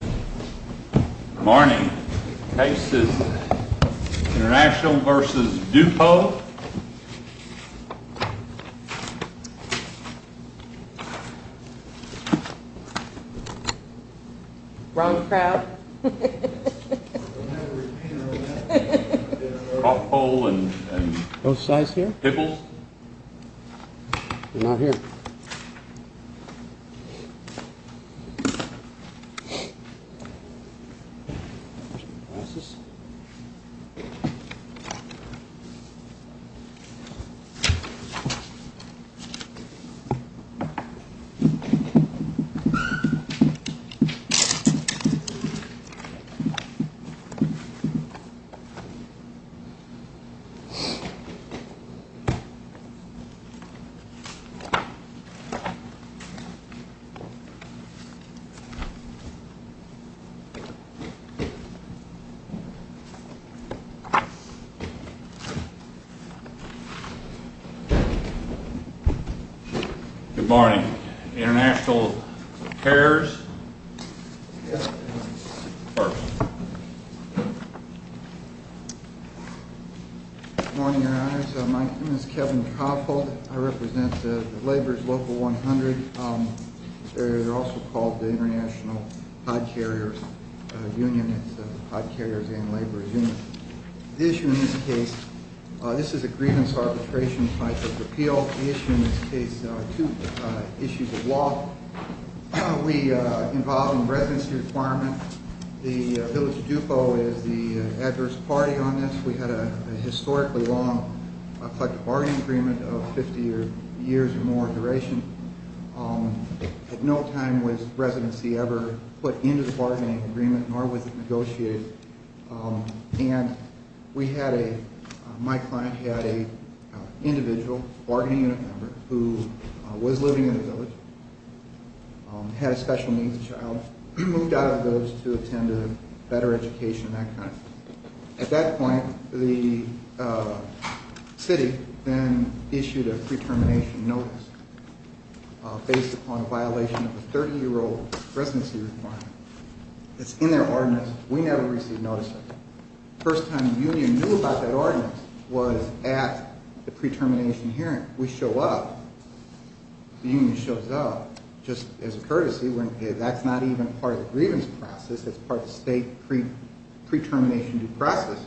Good morning. This is International v. Dupo. Wrong crowd. Both sides here? They're not here. Glasses. Good morning. Good morning. International Carriers. Good morning, Your Honors. My name is Kevin Coffold. I represent the Labor's Local 100. They're also called the International HOD Carriers Union. It's the HOD Carriers and Labor Union. The issue in this case, this is a grievance arbitration type of appeal. The issue in this case are two issues of law. We involve in residency requirements. The Village of Dupo is the adverse party on this. We had a historically long collective bargaining agreement of 50 years or more duration. At no time was residency ever put into the bargaining agreement, nor was it negotiated. And we had a, my client had a individual bargaining unit member who was living in the village, had a special needs child, moved out of the village to attend a better education, that kind of thing. At that point, the city then issued a pre-termination notice based upon a violation of a 30-year-old residency requirement. It's in their ordinance. We never received notice of it. First time the union knew about that ordinance was at the pre-termination hearing. We show up, the union shows up, just as a courtesy, that's not even part of the grievance process, that's part of the state pre-termination due process.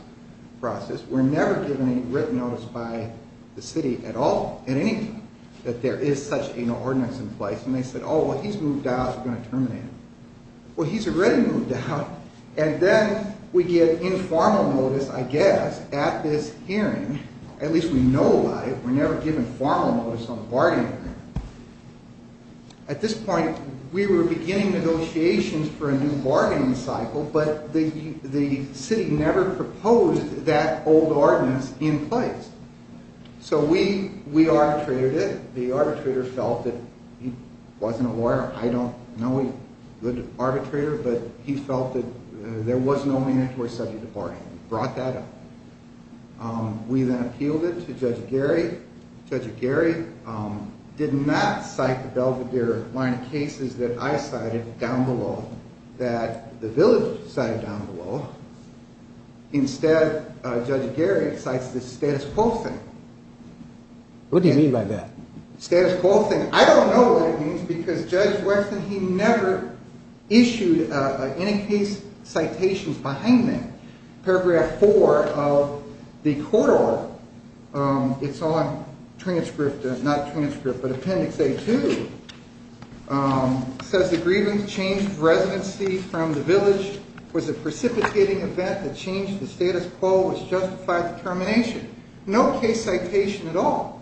We're never given any written notice by the city at all, at any time, that there is such an ordinance in place. And they said, oh, well, he's moved out, we're going to terminate him. Well, he's already moved out, and then we get informal notice, I guess, at this hearing. At least we know about it, we're never given formal notice on a bargaining agreement. At this point, we were beginning negotiations for a new bargaining cycle, but the city never proposed that old ordinance in place. So we arbitrated it. The arbitrator felt that he wasn't a lawyer. I don't know a good arbitrator, but he felt that there was no man who was subject to bargaining. We brought that up. We then appealed it to Judge Gary. Judge Gary did not cite the Belvedere line of cases that I cited down below, that the village cited down below. Instead, Judge Gary cites the status quo thing. What do you mean by that? Status quo thing. I don't know what it means, because Judge Weston, he never issued any case citations behind that. Paragraph 4 of the court order, it's on transcript, not transcript, but Appendix A-2, says, The grievance change of residency from the village was a precipitating event that changed the status quo, which justified the termination. No case citation at all.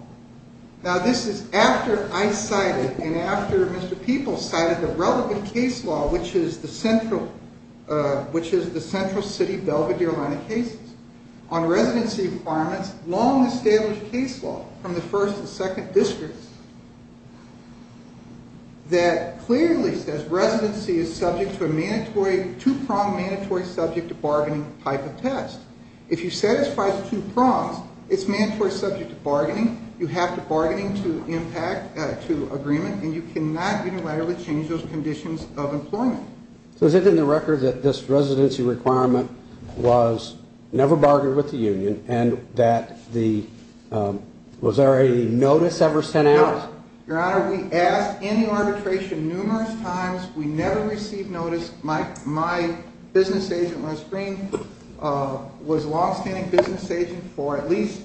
Now, this is after I cited and after Mr. Peoples cited the relevant case law, which is the central city Belvedere line of cases, on residency requirements, long established case law from the first and second districts, that clearly says residency is subject to a two-pronged mandatory subject to bargaining type of test. If you satisfy the two prongs, it's mandatory subject to bargaining. You have to bargain to impact, to agreement, and you cannot unilaterally change those conditions of employment. So is it in the record that this residency requirement was never bargained with the union and that the – was there a notice ever sent out? No. Your Honor, we asked any arbitration numerous times. We never received notice. My business agent, Wes Green, was a longstanding business agent for at least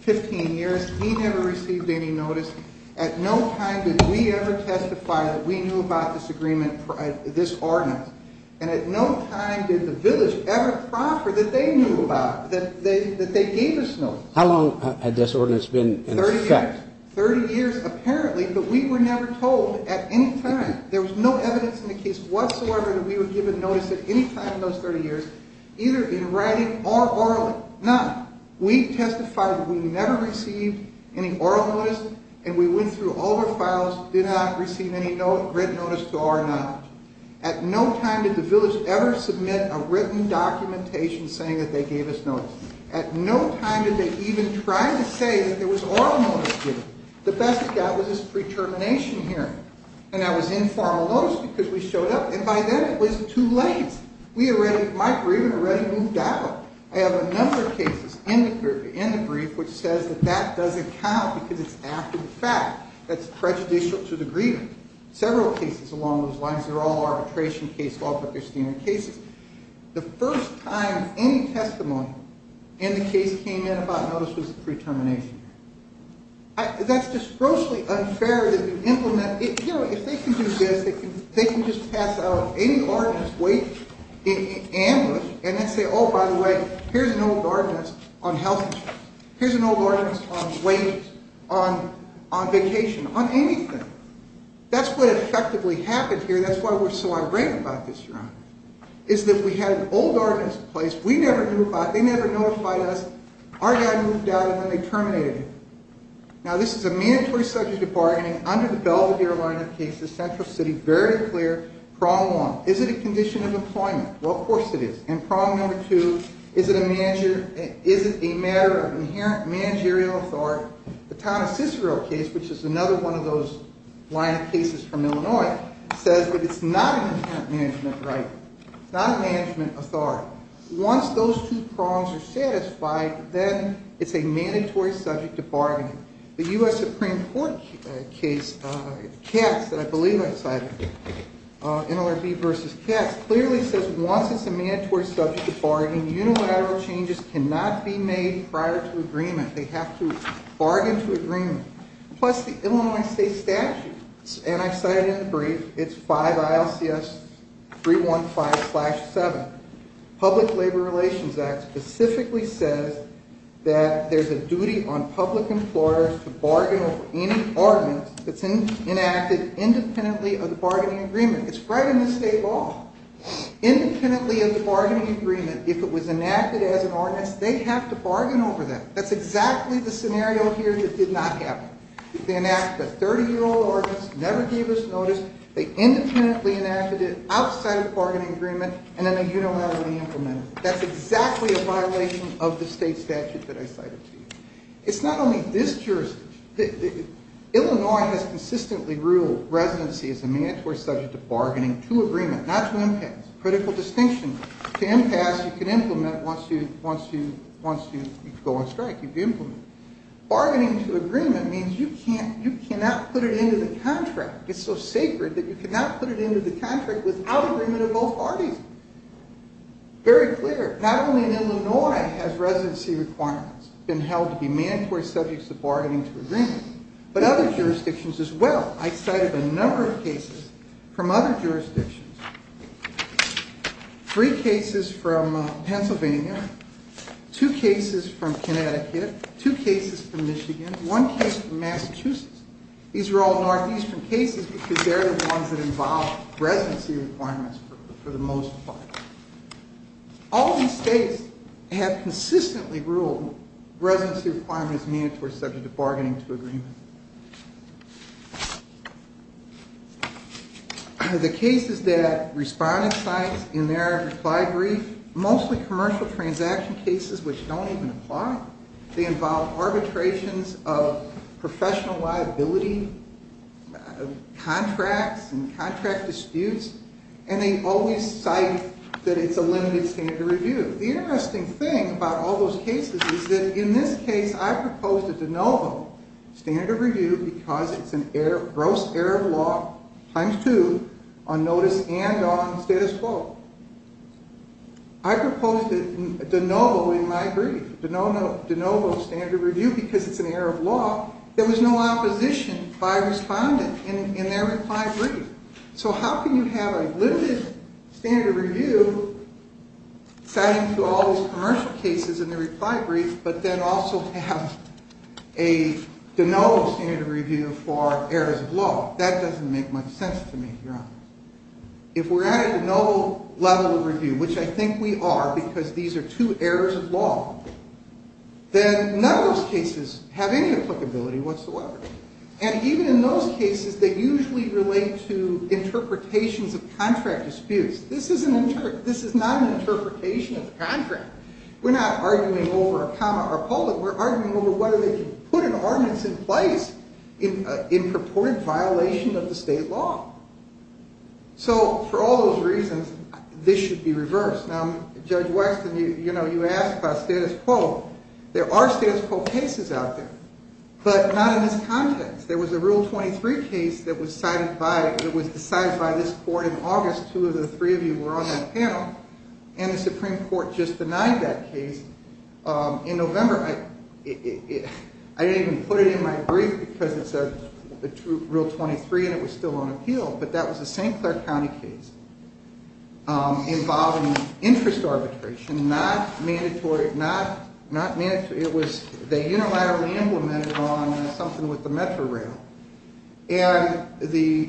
15 years. He never received any notice. At no time did we ever testify that we knew about this agreement, this ordinance, and at no time did the village ever proffer that they knew about it, that they gave us notice. How long had this ordinance been in effect? Thirty years, apparently, but we were never told at any time. There was no evidence in the case whatsoever that we were given notice at any time in those 30 years, either in writing or orally. None. We testified that we never received any oral notice, and we went through all the files, did not receive any written notice at all or not. At no time did the village ever submit a written documentation saying that they gave us notice. At no time did they even try to say that there was oral notice given. The best it got was this pre-termination hearing. And I was in formal notice because we showed up, and by then it was too late. My grievance had already moved out. I have a number of cases in the brief which says that that doesn't count because it's after the fact. That's prejudicial to the grievance. Several cases along those lines, they're all arbitration cases, all Procrastinian cases. The first time any testimony in the case came in about notice was the pre-termination hearing. That's just grossly unfair to implement. You know, if they can do this, they can just pass out any ordinance, wait, and look, and then say, oh, by the way, here's an old ordinance on health insurance. Here's an old ordinance on wages, on vacation, on anything. That's what effectively happened here. That's why we're so irate about this, Your Honor, is that we had an old ordinance in place. We never knew about it. They never notified us. Our guy moved out, and then they terminated him. Now, this is a mandatory subject of bargaining under the Belvedere line of cases, Central City, very clear. Prong one, is it a condition of employment? Well, of course it is. And prong number two, is it a matter of inherent managerial authority? The Thomas Cicero case, which is another one of those line of cases from Illinois, says that it's not an inherent management right. It's not a management authority. Now, once those two prongs are satisfied, then it's a mandatory subject of bargaining. The U.S. Supreme Court case, Katz, that I believe I cited, NLRB v. Katz, clearly says once it's a mandatory subject of bargaining, unilateral changes cannot be made prior to agreement. They have to bargain to agreement. Plus, the Illinois state statute, and I cited it in the brief, it's 5 ILCS 315-7. Public Labor Relations Act specifically says that there's a duty on public employers to bargain over any ordinance that's enacted independently of the bargaining agreement. It's right in the state law. Independently of the bargaining agreement, if it was enacted as an ordinance, they have to bargain over that. That's exactly the scenario here that did not happen. They enacted a 30-year-old ordinance, never gave us notice. They independently enacted it outside of the bargaining agreement, and then they unilaterally implemented it. That's exactly a violation of the state statute that I cited to you. It's not only this jurisdiction. Illinois has consistently ruled residency as a mandatory subject of bargaining to agreement, not to impasse. Critical distinction. To impasse, you can implement once you go on strike. You can implement. Bargaining to agreement means you cannot put it into the contract. It's so sacred that you cannot put it into the contract without agreement of both parties. Very clear. Not only in Illinois has residency requirements been held to be mandatory subjects of bargaining to agreement, but other jurisdictions as well. I cited a number of cases from other jurisdictions. Three cases from Pennsylvania. Two cases from Connecticut. Two cases from Michigan. One case from Massachusetts. These are all northeastern cases because they're the ones that involve residency requirements for the most part. All these states have consistently ruled residency requirements mandatory subject of bargaining to agreement. The cases that respondents cite in their reply brief, mostly commercial transaction cases which don't even apply. They involve arbitrations of professional liability contracts and contract disputes, and they always cite that it's a limited standard of review. The interesting thing about all those cases is that in this case I proposed a de novo standard of review because it's a gross error of law times two on notice and on status quo. I proposed a de novo in my brief. De novo standard of review because it's an error of law. There was no opposition by a respondent in their reply brief. So how can you have a limited standard of review citing to all those commercial cases in the reply brief, but then also have a de novo standard of review for errors of law? That doesn't make much sense to me, Your Honor. If we're at a de novo level of review, which I think we are because these are two errors of law, then none of those cases have any applicability whatsoever. And even in those cases, they usually relate to interpretations of contract disputes. This is not an interpretation of the contract. We're not arguing over a comma or a pulpit. We're arguing over whether they can put an ordinance in place in purported violation of the state law. So for all those reasons, this should be reversed. Now, Judge Wexton, you know, you asked about status quo. There are status quo cases out there, but not in this context. There was a Rule 23 case that was decided by this court in August. Two of the three of you were on that panel, and the Supreme Court just denied that case in November. I didn't even put it in my brief because it's a Rule 23, and it was still on appeal. But that was a St. Clair County case involving interest arbitration, not mandatory. It was – they unilaterally implemented it on something with the metro rail. And the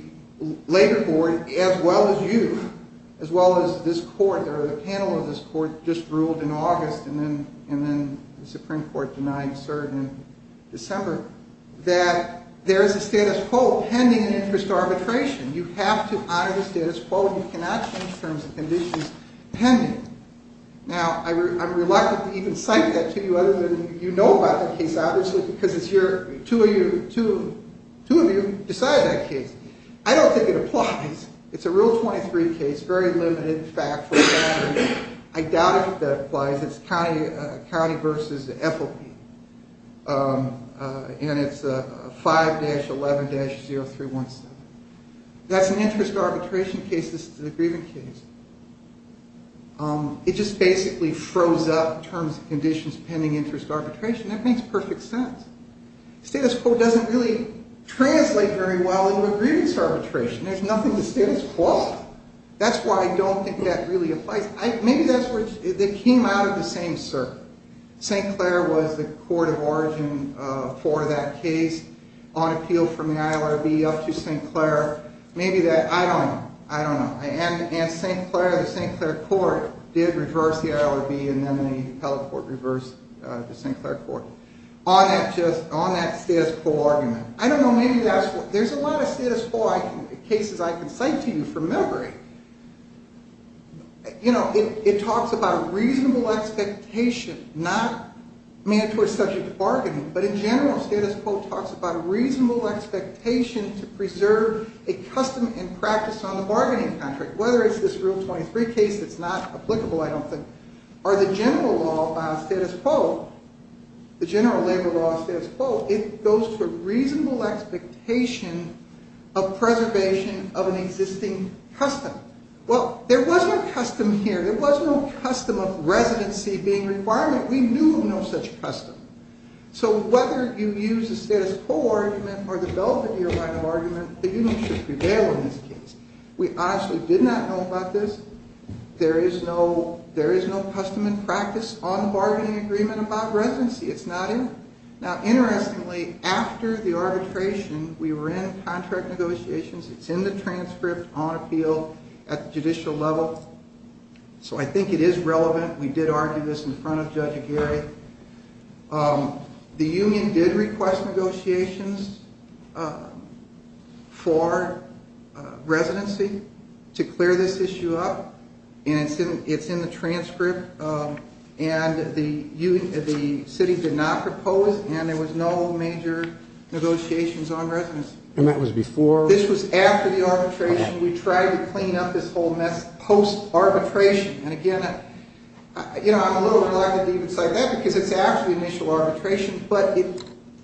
Labor Board, as well as you, as well as this court, or the panel of this court, just ruled in August, and then the Supreme Court denied cert in December, that there is a status quo pending in interest arbitration. You have to honor the status quo. You cannot change terms and conditions pending. Now, I'm reluctant to even cite that to you other than you know about that case, obviously, because it's your – two of you decided that case. I don't think it applies. It's a Rule 23 case, very limited, factual. I doubt if that applies. It's county versus FOP, and it's 5-11-0317. That's an interest arbitration case. This is a grievance case. It just basically froze up terms and conditions pending interest arbitration. That makes perfect sense. Status quo doesn't really translate very well into a grievance arbitration. There's nothing to status quo. That's why I don't think that really applies. Maybe that's what – they came out of the same circle. St. Clair was the court of origin for that case on appeal from the ILRB up to St. Clair. Maybe that – I don't know. I don't know. And St. Clair, the St. Clair court, did reverse the ILRB, and then the appellate court reversed the St. Clair court. On that status quo argument, I don't know. Maybe that's what – there's a lot of status quo cases I can cite to you from memory. You know, it talks about a reasonable expectation, not mandatory subject to bargaining, but in general, status quo talks about a reasonable expectation to preserve a custom and practice on the bargaining contract, whether it's this Rule 23 case that's not applicable, I don't think, or the general law about status quo, the general labor law status quo. It goes to a reasonable expectation of preservation of an existing custom. Well, there was no custom here. There was no custom of residency being a requirement. We knew of no such custom. So whether you use a status quo argument or develop it in your line of argument, the union should prevail in this case. We honestly did not know about this. There is no custom and practice on the bargaining agreement about residency. It's not in there. Now, interestingly, after the arbitration, we were in contract negotiations. It's in the transcript on appeal at the judicial level. So I think it is relevant. We did argue this in front of Judge Aguirre. The union did request negotiations for residency to clear this issue up, and it's in the transcript. And the city did not propose, and there was no major negotiations on residency. And that was before? This was after the arbitration. We tried to clean up this whole mess post-arbitration. And again, you know, I'm a little reluctant to even cite that because it's after the initial arbitration, but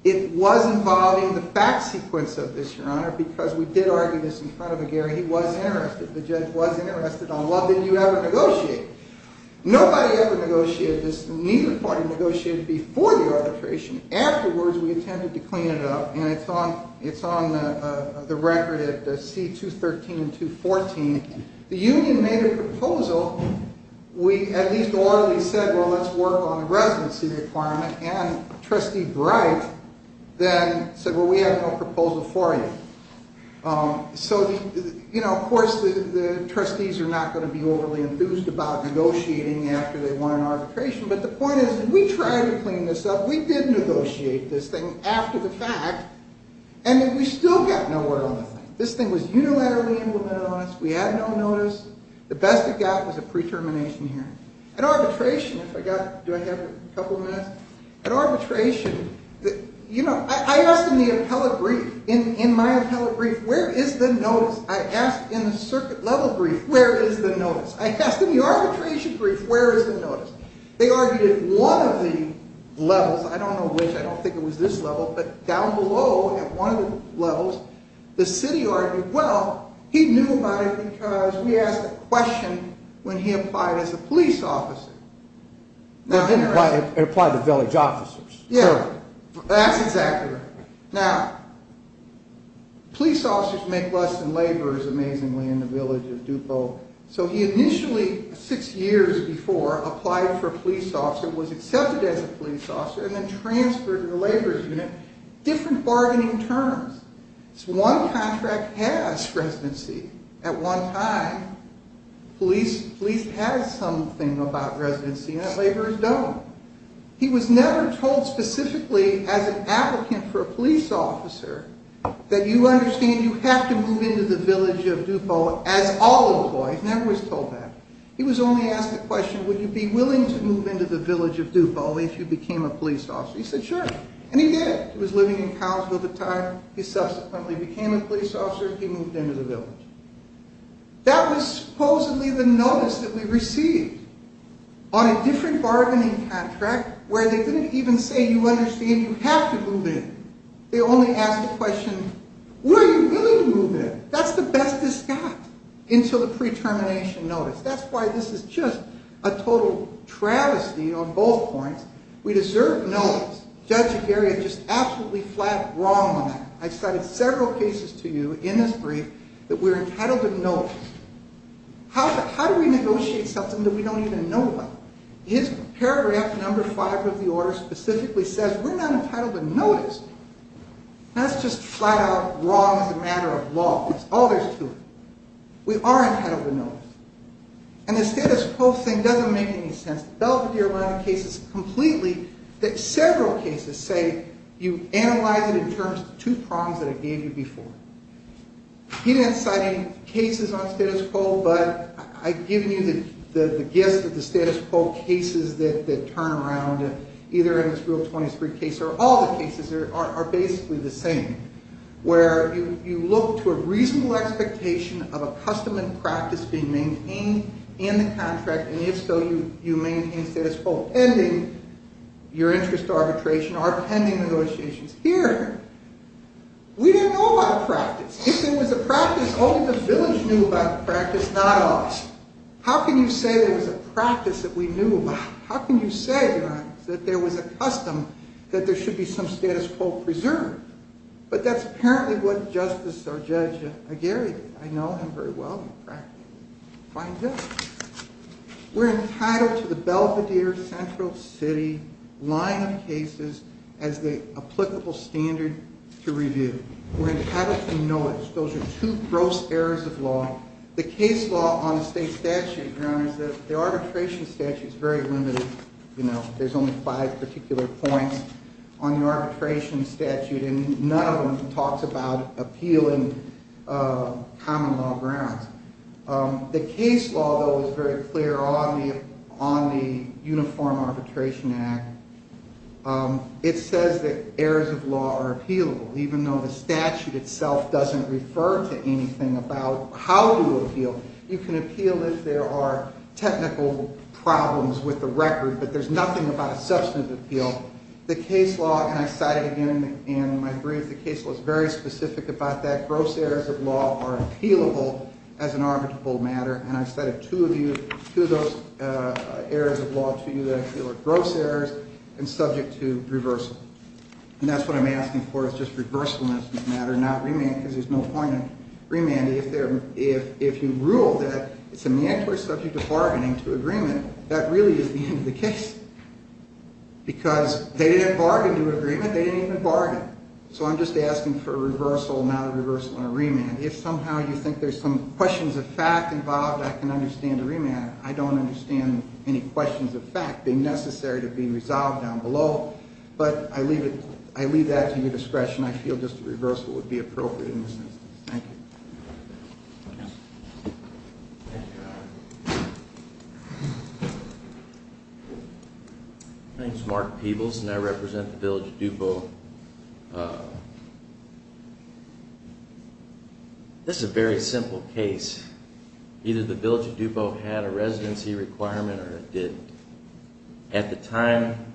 it was involving the fact sequence of this, Your Honor, because we did argue this in front of Aguirre. He was interested. The judge was interested. On what did you ever negotiate? Nobody ever negotiated this, neither party negotiated before the arbitration. Afterwards, we attempted to clean it up, and it's on the record at C213 and 214. The union made a proposal. We at least orally said, well, let's work on the residency requirement, and Trustee Bright then said, well, we have no proposal for you. So, you know, of course, the trustees are not going to be overly enthused about negotiating after they won an arbitration, but the point is that we tried to clean this up. We did negotiate this thing after the fact, and we still got nowhere on the thing. This thing was unilaterally implemented on us. We had no notice. The best it got was a pre-termination hearing. At arbitration, if I got, do I have a couple of minutes? At arbitration, you know, I asked in the appellate brief. In my appellate brief, where is the notice? I asked in the circuit level brief, where is the notice? I asked in the arbitration brief, where is the notice? They argued at one of the levels. I don't know which. I don't think it was this level, but down below at one of the levels, the city argued, well, he knew about it because we asked a question when he applied as a police officer. They didn't apply to village officers. Yeah, that's exactly right. Now, police officers make less than laborers, amazingly, in the village of Dupont. So he initially, six years before, applied for a police officer, was accepted as a police officer, and then transferred to the laborers' unit. Different bargaining terms. One contract has residency. At one time, police has something about residency, and the laborers don't. He was never told specifically, as an applicant for a police officer, that you understand you have to move into the village of Dupont as all employees. Never was told that. He was only asked the question, would you be willing to move into the village of Dupont if you became a police officer? He said, sure. And he did. He was living in Cowesville at the time. He subsequently became a police officer. He moved into the village. That was supposedly the notice that we received on a different bargaining contract, where they didn't even say you understand you have to move in. They only asked the question, were you willing to move in? That's the best this got until the pre-termination notice. That's why this is just a total travesty on both points. We deserve notice. Judge Aguirre just absolutely flat wronged on that. I cited several cases to you in this brief that we're entitled to notice. How do we negotiate something that we don't even know about? His paragraph number five of the order specifically says we're not entitled to notice. That's just flat out wrong as a matter of law. That's all there is to it. We are entitled to notice. And the status quo thing doesn't make any sense. It's completely that several cases say you analyze it in terms of two prongs that I gave you before. He didn't cite any cases on status quo, but I've given you the gist of the status quo cases that turn around, either in this Rule 23 case or all the cases are basically the same, where you look to a reasonable expectation of a custom and practice being maintained in the contract, and yet still you maintain status quo, ending your interest arbitration or pending negotiations. Here, we didn't know about practice. If there was a practice, only the village knew about the practice, not us. How can you say there was a practice that we knew about? How can you say that there was a custom that there should be some status quo preserved? But that's apparently what Justice or Judge Aguirre did. I know him very well in practice. Find him. We're entitled to the Belvedere Central City line of cases as the applicable standard to review. We're entitled to notice. Those are two gross errors of law. The case law on the state statute, Your Honor, is that the arbitration statute is very limited. You know, there's only five particular points on the arbitration statute, and none of them talks about appealing common law grounds. The case law, though, is very clear on the Uniform Arbitration Act. It says that errors of law are appealable, even though the statute itself doesn't refer to anything about how to appeal. You can appeal if there are technical problems with the record, but there's nothing about a substantive appeal. The case law, and I cited again in my brief, the case law is very specific about that. Gross errors of law are appealable as an arbitrable matter, and I cited two of those errors of law to you that I feel are gross errors and subject to reversal. And that's what I'm asking for is just reversal in this matter, not remand, because there's no point in remanding. If you rule that it's a mandatory subject of bargaining to agreement, that really is the end of the case. Because they didn't bargain to agreement, they didn't even bargain. So I'm just asking for reversal, not a reversal and a remand. If somehow you think there's some questions of fact involved, I can understand a remand. I don't understand any questions of fact being necessary to be resolved down below, but I leave that to your discretion. I feel just a reversal would be appropriate in this instance. Thank you. My name is Mark Peebles, and I represent the Village of DuPont. This is a very simple case. Either the Village of DuPont had a residency requirement or it didn't. At the time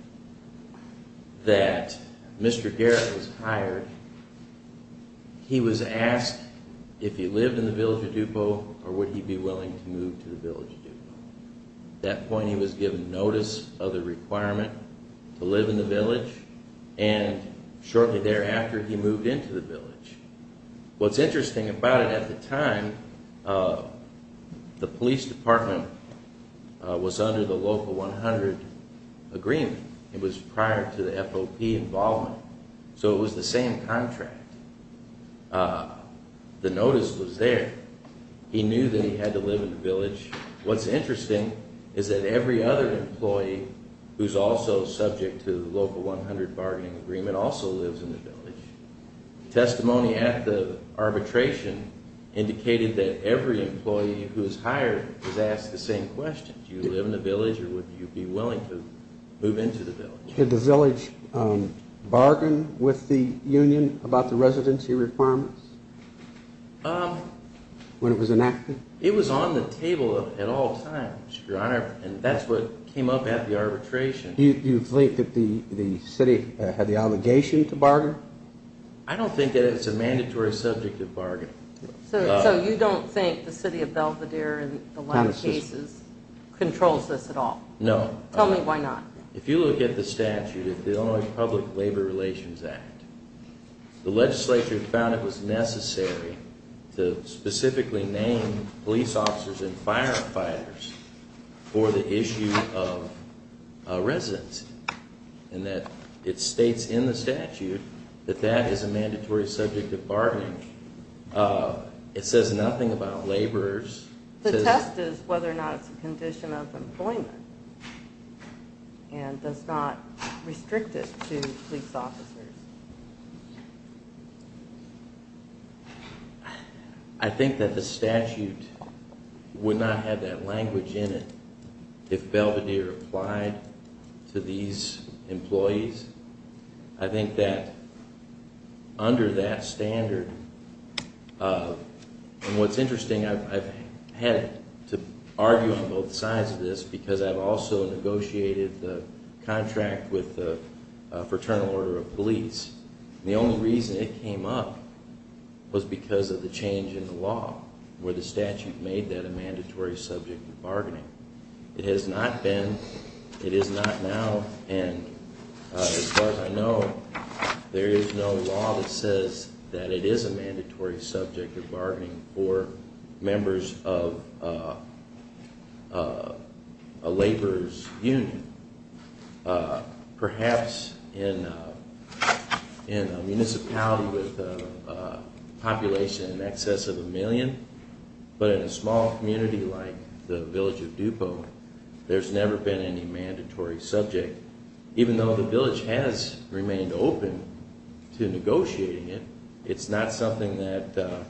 that Mr. Garrett was hired, he was asked if he lived in the Village of DuPont or would he be willing to move to the Village of DuPont. At that point, he was given notice of the requirement to live in the Village, and shortly thereafter, he moved into the Village. What's interesting about it, at the time, the police department was under the Local 100 Agreement. It was prior to the FOP involvement, so it was the same contract. The notice was there. He knew that he had to live in the Village. What's interesting is that every other employee who's also subject to the Local 100 bargaining agreement also lives in the Village. Testimony at the arbitration indicated that every employee who was hired was asked the same question. Do you live in the Village, or would you be willing to move into the Village? Did the Village bargain with the union about the residency requirements when it was enacted? It was on the table at all times, Your Honor, and that's what came up at the arbitration. Do you think that the City had the obligation to bargain? I don't think that it's a mandatory subject of bargaining. So you don't think the City of Belvedere in the last cases controls this at all? No. Tell me why not. If you look at the statute, the Illinois Public Labor Relations Act, the legislature found it was necessary to specifically name police officers and firefighters for the issue of residency, and that it states in the statute that that is a mandatory subject of bargaining. It says nothing about laborers. The test is whether or not it's a condition of employment and does not restrict it to police officers. I think that the statute would not have that language in it if Belvedere applied to these employees. I think that under that standard, and what's interesting, I've had to argue on both sides of this because I've also negotiated the contract with the Fraternal Order of Police, and the only reason it came up was because of the change in the law where the statute made that a mandatory subject of bargaining. It has not been, it is not now, and as far as I know, there is no law that says that it is a mandatory subject of bargaining for members of a laborer's union. Perhaps in a municipality with a population in excess of a million, but in a small community like the village of Dupo, there's never been any mandatory subject. Even though the village has remained open to negotiating it, it's not something that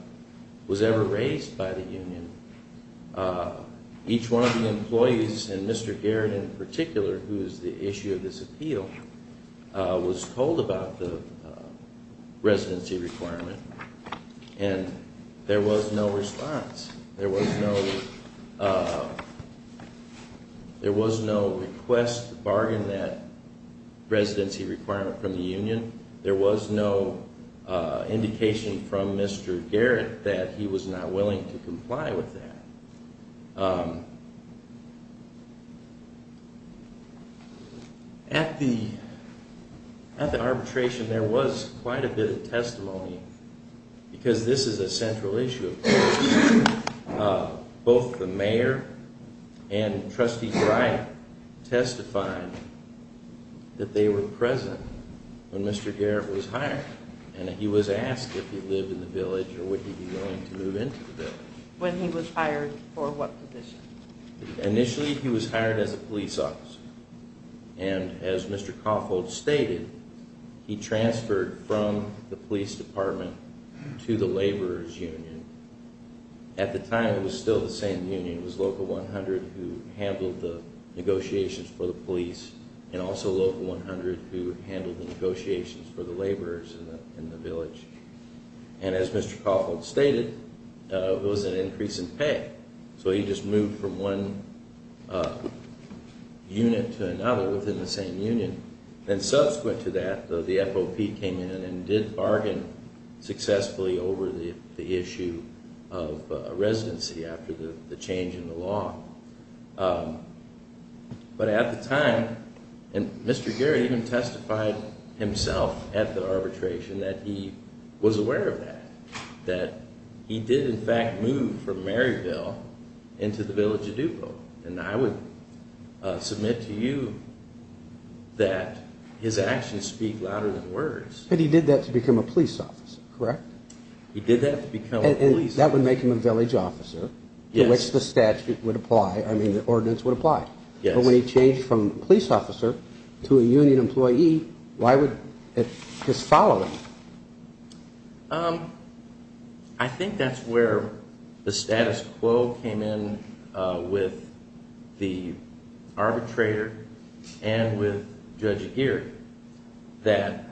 was ever raised by the union. Each one of the employees, and Mr. Garrett in particular, who is the issue of this appeal, was told about the residency requirement, and there was no response. There was no request to bargain that residency requirement from the union. There was no indication from Mr. Garrett that he was not willing to comply with that. At the arbitration, there was quite a bit of testimony, because this is a central issue. Both the mayor and Trustee Bright testified that they were present when Mr. Garrett was hired, and that he was asked if he lived in the village or would he be willing to move into the village. When he was hired, for what position? Initially, he was hired as a police officer. As Mr. Kaufold stated, he transferred from the police department to the laborer's union. At the time, it was still the same union. It was Local 100 who handled the negotiations for the police, and also Local 100 who handled the negotiations for the laborers in the village. As Mr. Kaufold stated, there was an increase in pay, so he just moved from one unit to another within the same union. Subsequent to that, the FOP came in and did bargain successfully over the issue of residency after the change in the law. At the time, Mr. Garrett even testified himself at the arbitration that he was aware of that. He did, in fact, move from Maryville into the village of Dupont. I would submit to you that his actions speak louder than words. He did that to become a police officer, correct? He did that to become a police officer. Yes. To which the statute would apply, I mean, the ordinance would apply. Yes. But when he changed from police officer to a union employee, why would his following? I think that's where the status quo came in with the arbitrator and with Judge Aguirre, that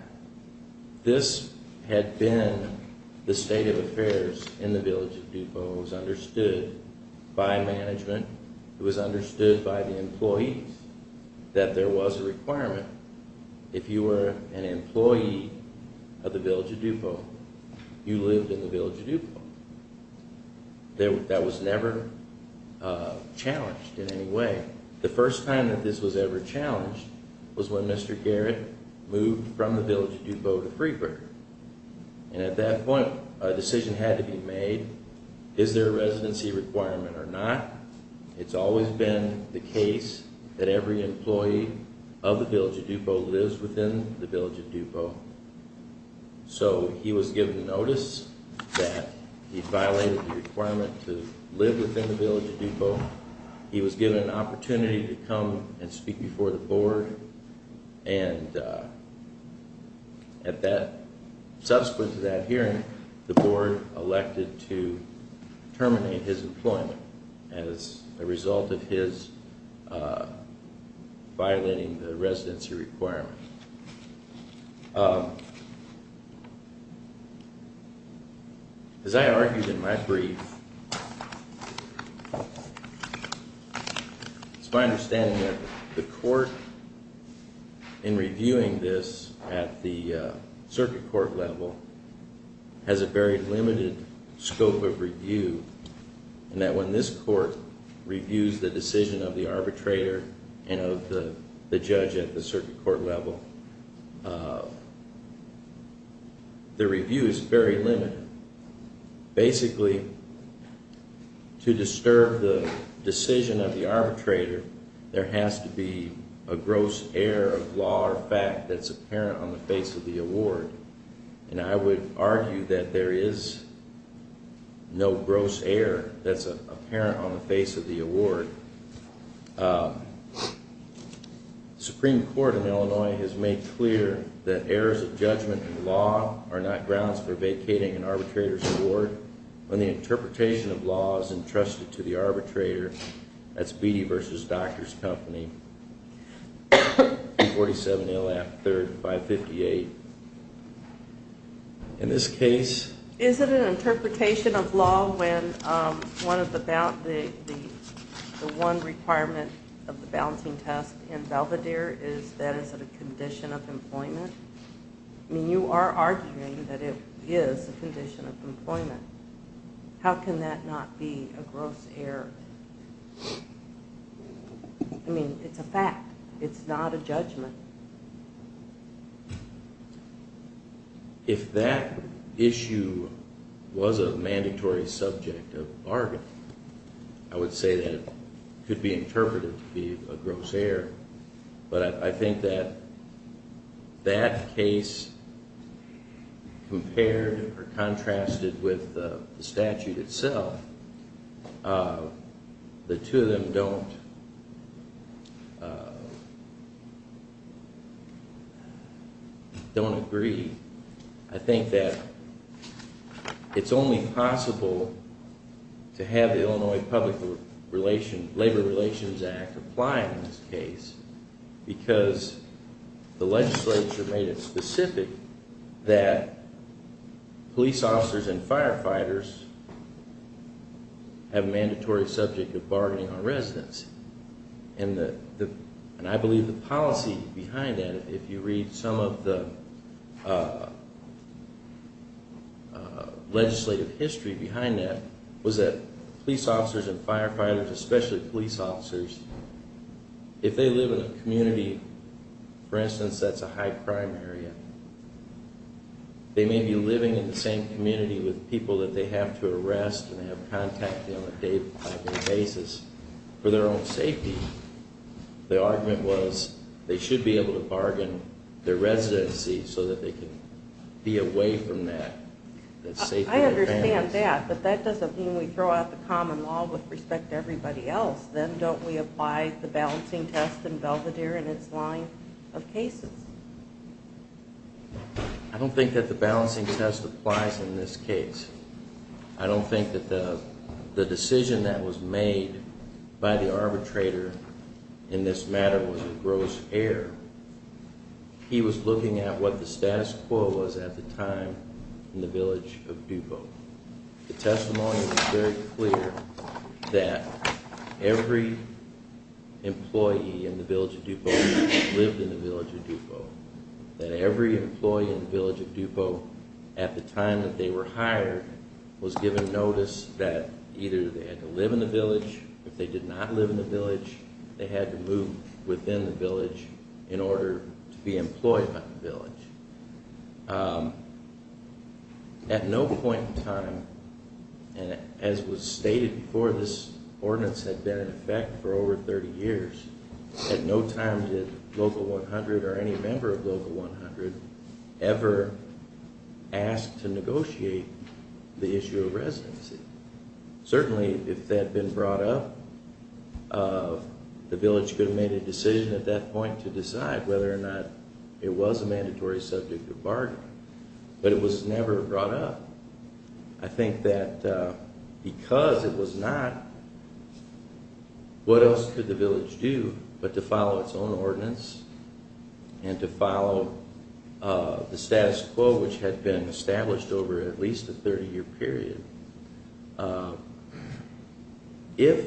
this had been the state of affairs in the village of Dupont. It was understood by management. It was understood by the employees that there was a requirement. If you were an employee of the village of Dupont, you lived in the village of Dupont. That was never challenged in any way. The first time that this was ever challenged was when Mr. Garrett moved from the village of Dupont to Freeburg. And at that point, a decision had to be made. Is there a residency requirement or not? It's always been the case that every employee of the village of Dupont lives within the village of Dupont. So he was given notice that he violated the requirement to live within the village of Dupont. So he was given an opportunity to come and speak before the board. And subsequent to that hearing, the board elected to terminate his employment as a result of his violating the residency requirement. As I argued in my brief, it's my understanding that the court, in reviewing this at the circuit court level, has a very limited scope of review, and that when this court reviews the decision of the arbitrator and of the judge at the circuit court level, the review is very limited. Basically, to disturb the decision of the arbitrator, there has to be a gross error of law or fact that's apparent on the face of the award. And I would argue that there is no gross error that's apparent on the face of the award. The Supreme Court in Illinois has made clear that errors of judgment in law are not grounds for vacating an arbitrator's award. When the interpretation of law is entrusted to the arbitrator, that's Beattie v. Doctors Company, 247-0558. In this case... Is it an interpretation of law when the one requirement of the balancing test in Belvedere is that it's a condition of employment? I mean, you are arguing that it is a condition of employment. How can that not be a gross error? I mean, it's a fact. It's not a judgment. If that issue was a mandatory subject of bargain, I would say that it could be interpreted to be a gross error. But I think that that case compared or contrasted with the statute itself, the two of them don't agree. I think that it's only possible to have the Illinois Public Labor Relations Act apply in this case because the legislature made it specific that police officers and firefighters have a mandatory subject of bargaining on residence. And I believe the policy behind that, if you read some of the legislative history behind that, was that police officers and firefighters, especially police officers, if they live in a community, for instance, that's a high-crime area, they may be living in the same community with people that they have to arrest and they have contact on a day-by-day basis for their own safety. The argument was they should be able to bargain their residency so that they can be away from that. I understand that, but that doesn't mean we throw out the common law with respect to everybody else. Then don't we apply the balancing test in Belvedere and its line of cases? I don't think that the balancing test applies in this case. I don't think that the decision that was made by the arbitrator in this matter was a gross error. He was looking at what the status quo was at the time in the village of DuPo. The testimony was very clear that every employee in the village of DuPo lived in the village of DuPo, that every employee in the village of DuPo at the time that they were hired was given notice that either they had to live in the village, if they did not live in the village, they had to move within the village in order to be employed by the village. At no point in time, and as was stated before, this ordinance had been in effect for over 30 years. At no time did Local 100 or any member of Local 100 ever ask to negotiate the issue of residency. Certainly, if that had been brought up, the village could have made a decision at that point to decide whether or not it was a mandatory subject of bargaining, but it was never brought up. I think that because it was not, what else could the village do but to follow its own ordinance and to follow the status quo which had been established over at least a 30-year period. If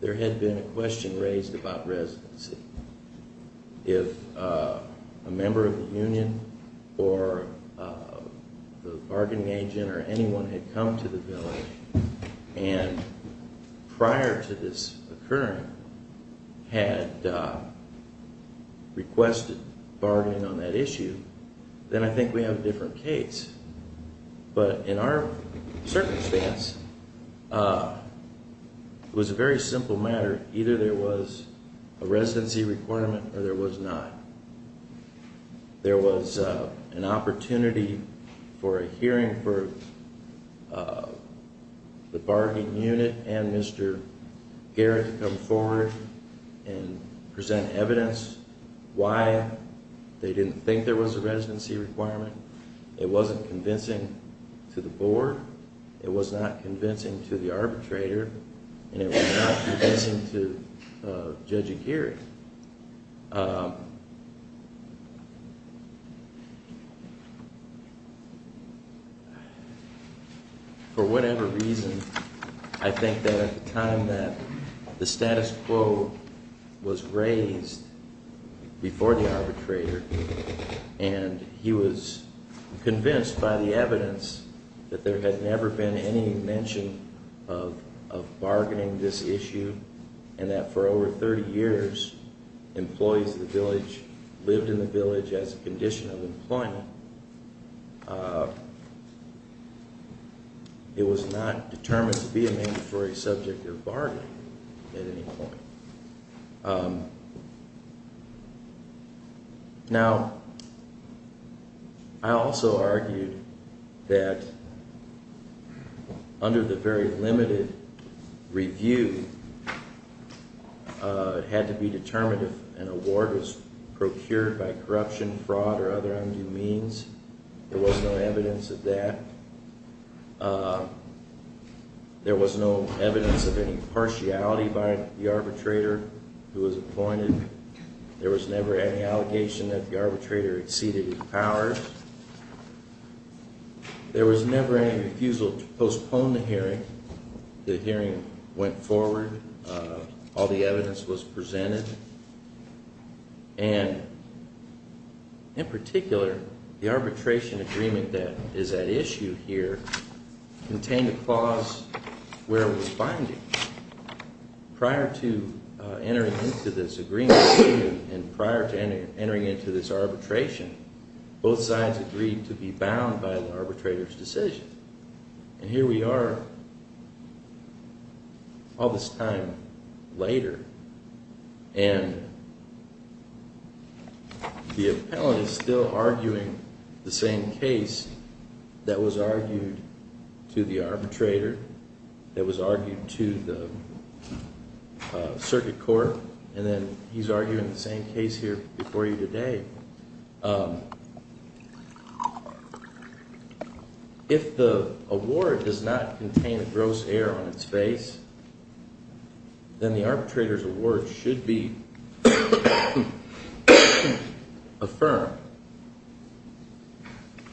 there had been a question raised about residency, if a member of the union or the bargaining agent or anyone had come to the village and prior to this occurring had requested bargaining on that issue, then I think we have a different case. But in our circumstance, it was a very simple matter. Either there was a residency requirement or there was not. There was an opportunity for a hearing for the bargaining unit and Mr. Garrett to come forward and present evidence why they didn't think there was a residency requirement. It wasn't convincing to the board, it was not convincing to the arbitrator, and it was not convincing to Judge Aguirre. For whatever reason, I think that at the time that the status quo was raised before the arbitrator and he was convinced by the evidence that there had never been any mention of bargaining this issue and that for over 30 years employees of the village lived in the village as a condition of employment, it was not determined to be a mandatory subject of bargaining at any point. Now, I also argued that under the very limited review, it had to be determined if an award was procured by corruption, fraud or other undue means. There was no evidence of that. There was no evidence of any partiality by the arbitrator who was appointed. There was never any allegation that the arbitrator exceeded his powers. There was never any refusal to postpone the hearing. The hearing went forward. All the evidence was presented. And in particular, the arbitration agreement that is at issue here contained a clause where it was binding. Prior to entering into this agreement and prior to entering into this arbitration, both sides agreed to be bound by the arbitrator's decision. And here we are all this time later and the appellant is still arguing the same case that was argued to the arbitrator, that was argued to the circuit court and then he's arguing the same case here before you today. If the award does not contain a gross error on its face, then the arbitrator's award should be affirmed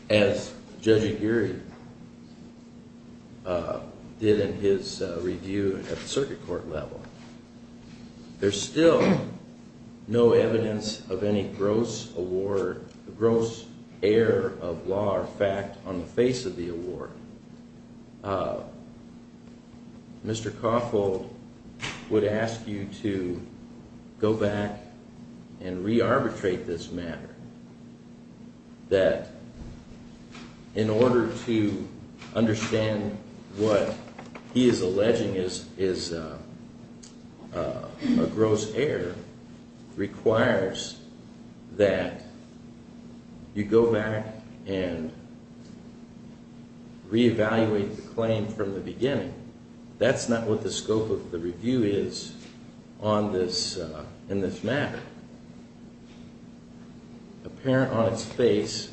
as Judge Aguirre did in his review at the circuit court level. There's still no evidence of any gross error of law or fact on the face of the award. Mr. Cawthill would ask you to go back and re-arbitrate this matter. That in order to understand what he is alleging is a gross error requires that you go back and re-evaluate the claim from the beginning. That's not what the scope of the review is in this matter. Apparent on its face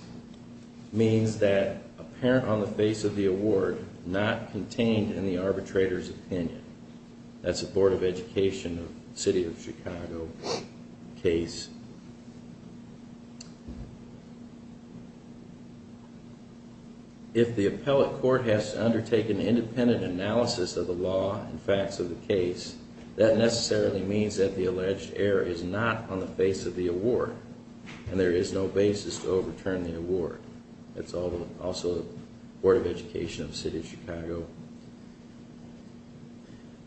means that apparent on the face of the award, not contained in the arbitrator's opinion. That's a Board of Education, City of Chicago case. If the appellate court has to undertake an independent analysis of the law and facts of the case, that necessarily means that the alleged error is not on the face of the award. And there is no basis to overturn the award. That's also the Board of Education of the City of Chicago.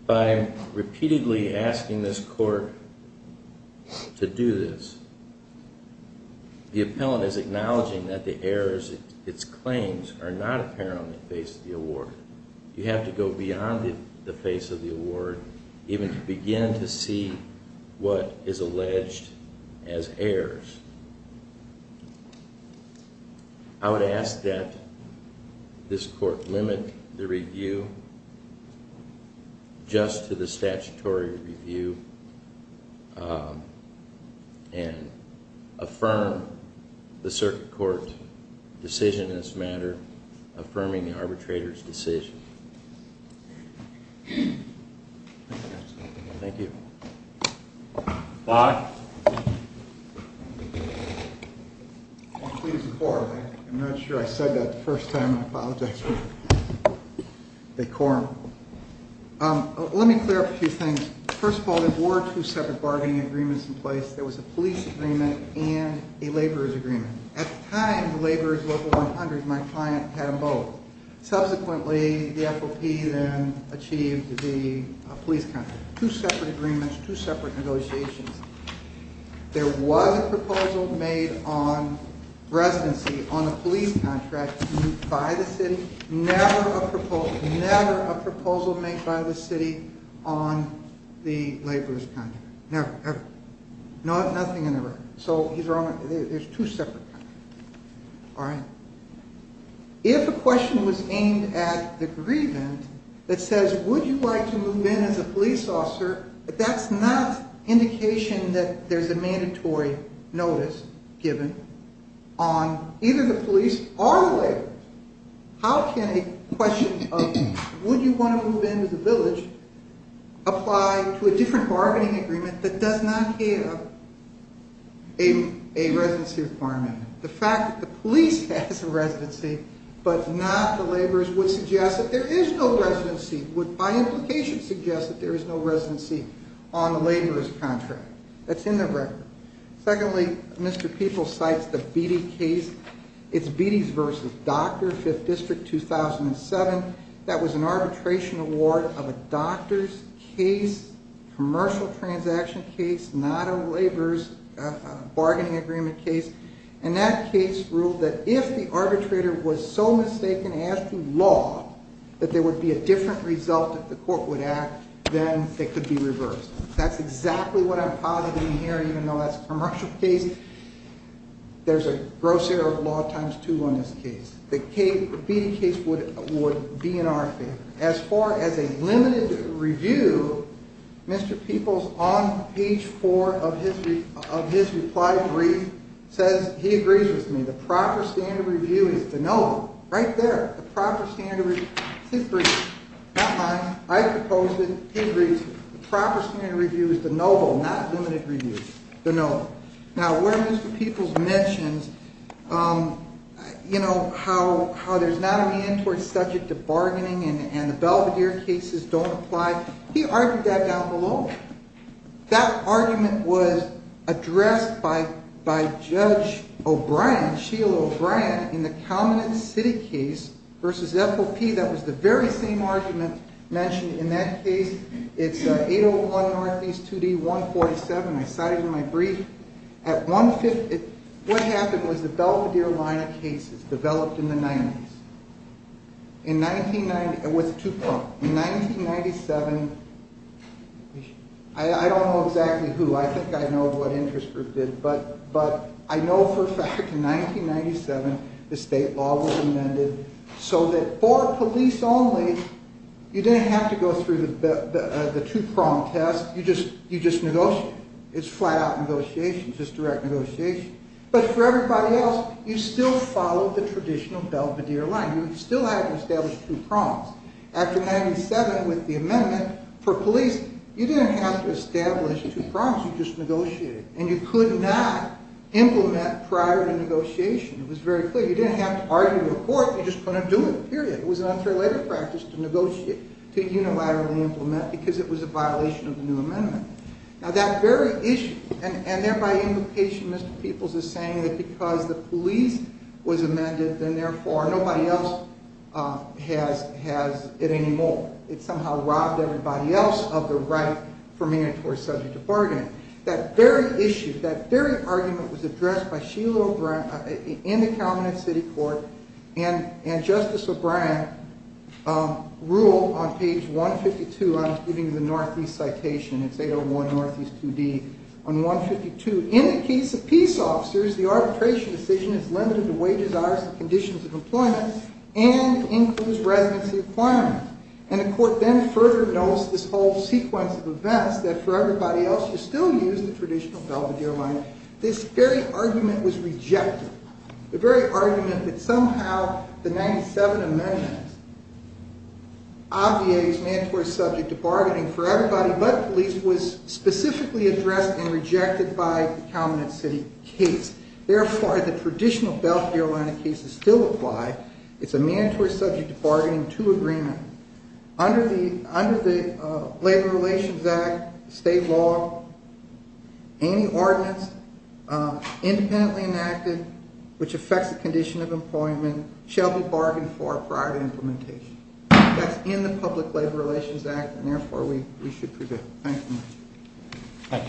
By repeatedly asking this court to do this, the appellate is acknowledging that the errors in its claims are not apparent on the face of the award. You have to go beyond the face of the award even to begin to see what is alleged as errors. I would ask that this court limit the review just to the statutory review and affirm the circuit court decision in this matter, affirming the arbitrator's decision. Thank you. I'm not sure I said that the first time. I apologize. Let me clear up a few things. First of all, there were two separate bargaining agreements in place. There was a police agreement and a laborers agreement. At the time, the laborers were 100. My client had both. Subsequently, the FOP then achieved the police contract. Two separate agreements, two separate negotiations. There was a proposal made on residency on a police contract by the city. Never a proposal made by the city on the laborers contract. Never, ever. Nothing in the record. So there's two separate contracts. All right? If a question was aimed at the grievance that says, would you like to move in as a police officer? But that's not indication that there's a mandatory notice given on either the police or the way. How can a question of would you want to move into the village? Apply to a different bargaining agreement that does not give. A residency requirement. The fact that the police has a residency, but not the laborers, would suggest that there is no residency. Would, by implication, suggest that there is no residency on the laborers contract. That's in the record. Secondly, Mr. Peoples cites the Beatty case. It's Beatty versus Docter, 5th District, 2007. That was an arbitration award of a doctor's case, commercial transaction case, not a laborers bargaining agreement case. And that case ruled that if the arbitrator was so mistaken as to law that there would be a different result if the court would act, then it could be reversed. That's exactly what I'm positing here, even though that's a commercial case. There's a gross error of law times two on this case. The Beatty case would be in our favor. As far as a limited review, Mr. Peoples, on page four of his reply brief, says he agrees with me. The proper standard review is de novo. Right there. The proper standard review. His brief. Not mine. I proposed it. The proper standard review is de novo, not limited review. De novo. Now, where Mr. Peoples mentions, you know, how there's not a reentering subject to bargaining and the Belvedere cases don't apply, he argued that down below. That argument was addressed by Judge O'Brien, Sheila O'Brien, in the Calman and City case versus FOP. That was the very same argument mentioned in that case. It's 801 Northeast 2D 147. I cited it in my brief. At 150, what happened was the Belvedere line of cases developed in the 90s. In 1990, it was two-pronged. In 1997, I don't know exactly who, I think I know what interest group did, but I know for a fact in 1997, the state law was amended so that for police only, you didn't have to go through the two-pronged test. You just negotiated. It's flat-out negotiation. It's just direct negotiation. But for everybody else, you still followed the traditional Belvedere line. You still had to establish two prongs. After 1997, with the amendment for police, you didn't have to establish two prongs. You just negotiated. And you could not implement prior to negotiation. It was very clear. You didn't have to argue in court. You just couldn't do it, period. It was an unrelated practice to negotiate, to unilaterally implement, because it was a violation of the new amendment. Now, that very issue, and thereby implication, Mr. Peoples is saying that because the police was amended, then, therefore, nobody else has it anymore. It somehow robbed everybody else of the right for mandatory subject to bargaining. That very issue, that very argument was addressed by Sheila O'Brien in the Calumet City Court, and Justice O'Brien ruled on page 152. I'm giving you the Northeast citation. It's 801 Northeast 2D on 152. In the case of peace officers, the arbitration decision is limited to wages, hours, and conditions of employment, and includes residency requirements. And the court then further notes this whole sequence of events, that for everybody else, you still use the traditional belt of the airline. This very argument was rejected, the very argument that somehow the 97 amendments obviates mandatory subject to bargaining for everybody, but police was specifically addressed and rejected by the Calumet City case. Therefore, the traditional belt of the airline case is still applied. It's a mandatory subject to bargaining to agreement. Under the Labor Relations Act, state law, any ordinance independently enacted, which affects the condition of employment, shall be bargained for prior to implementation. That's in the Public Labor Relations Act, and therefore, we should prevail. Thank you. Thank you, Mr. Peoples.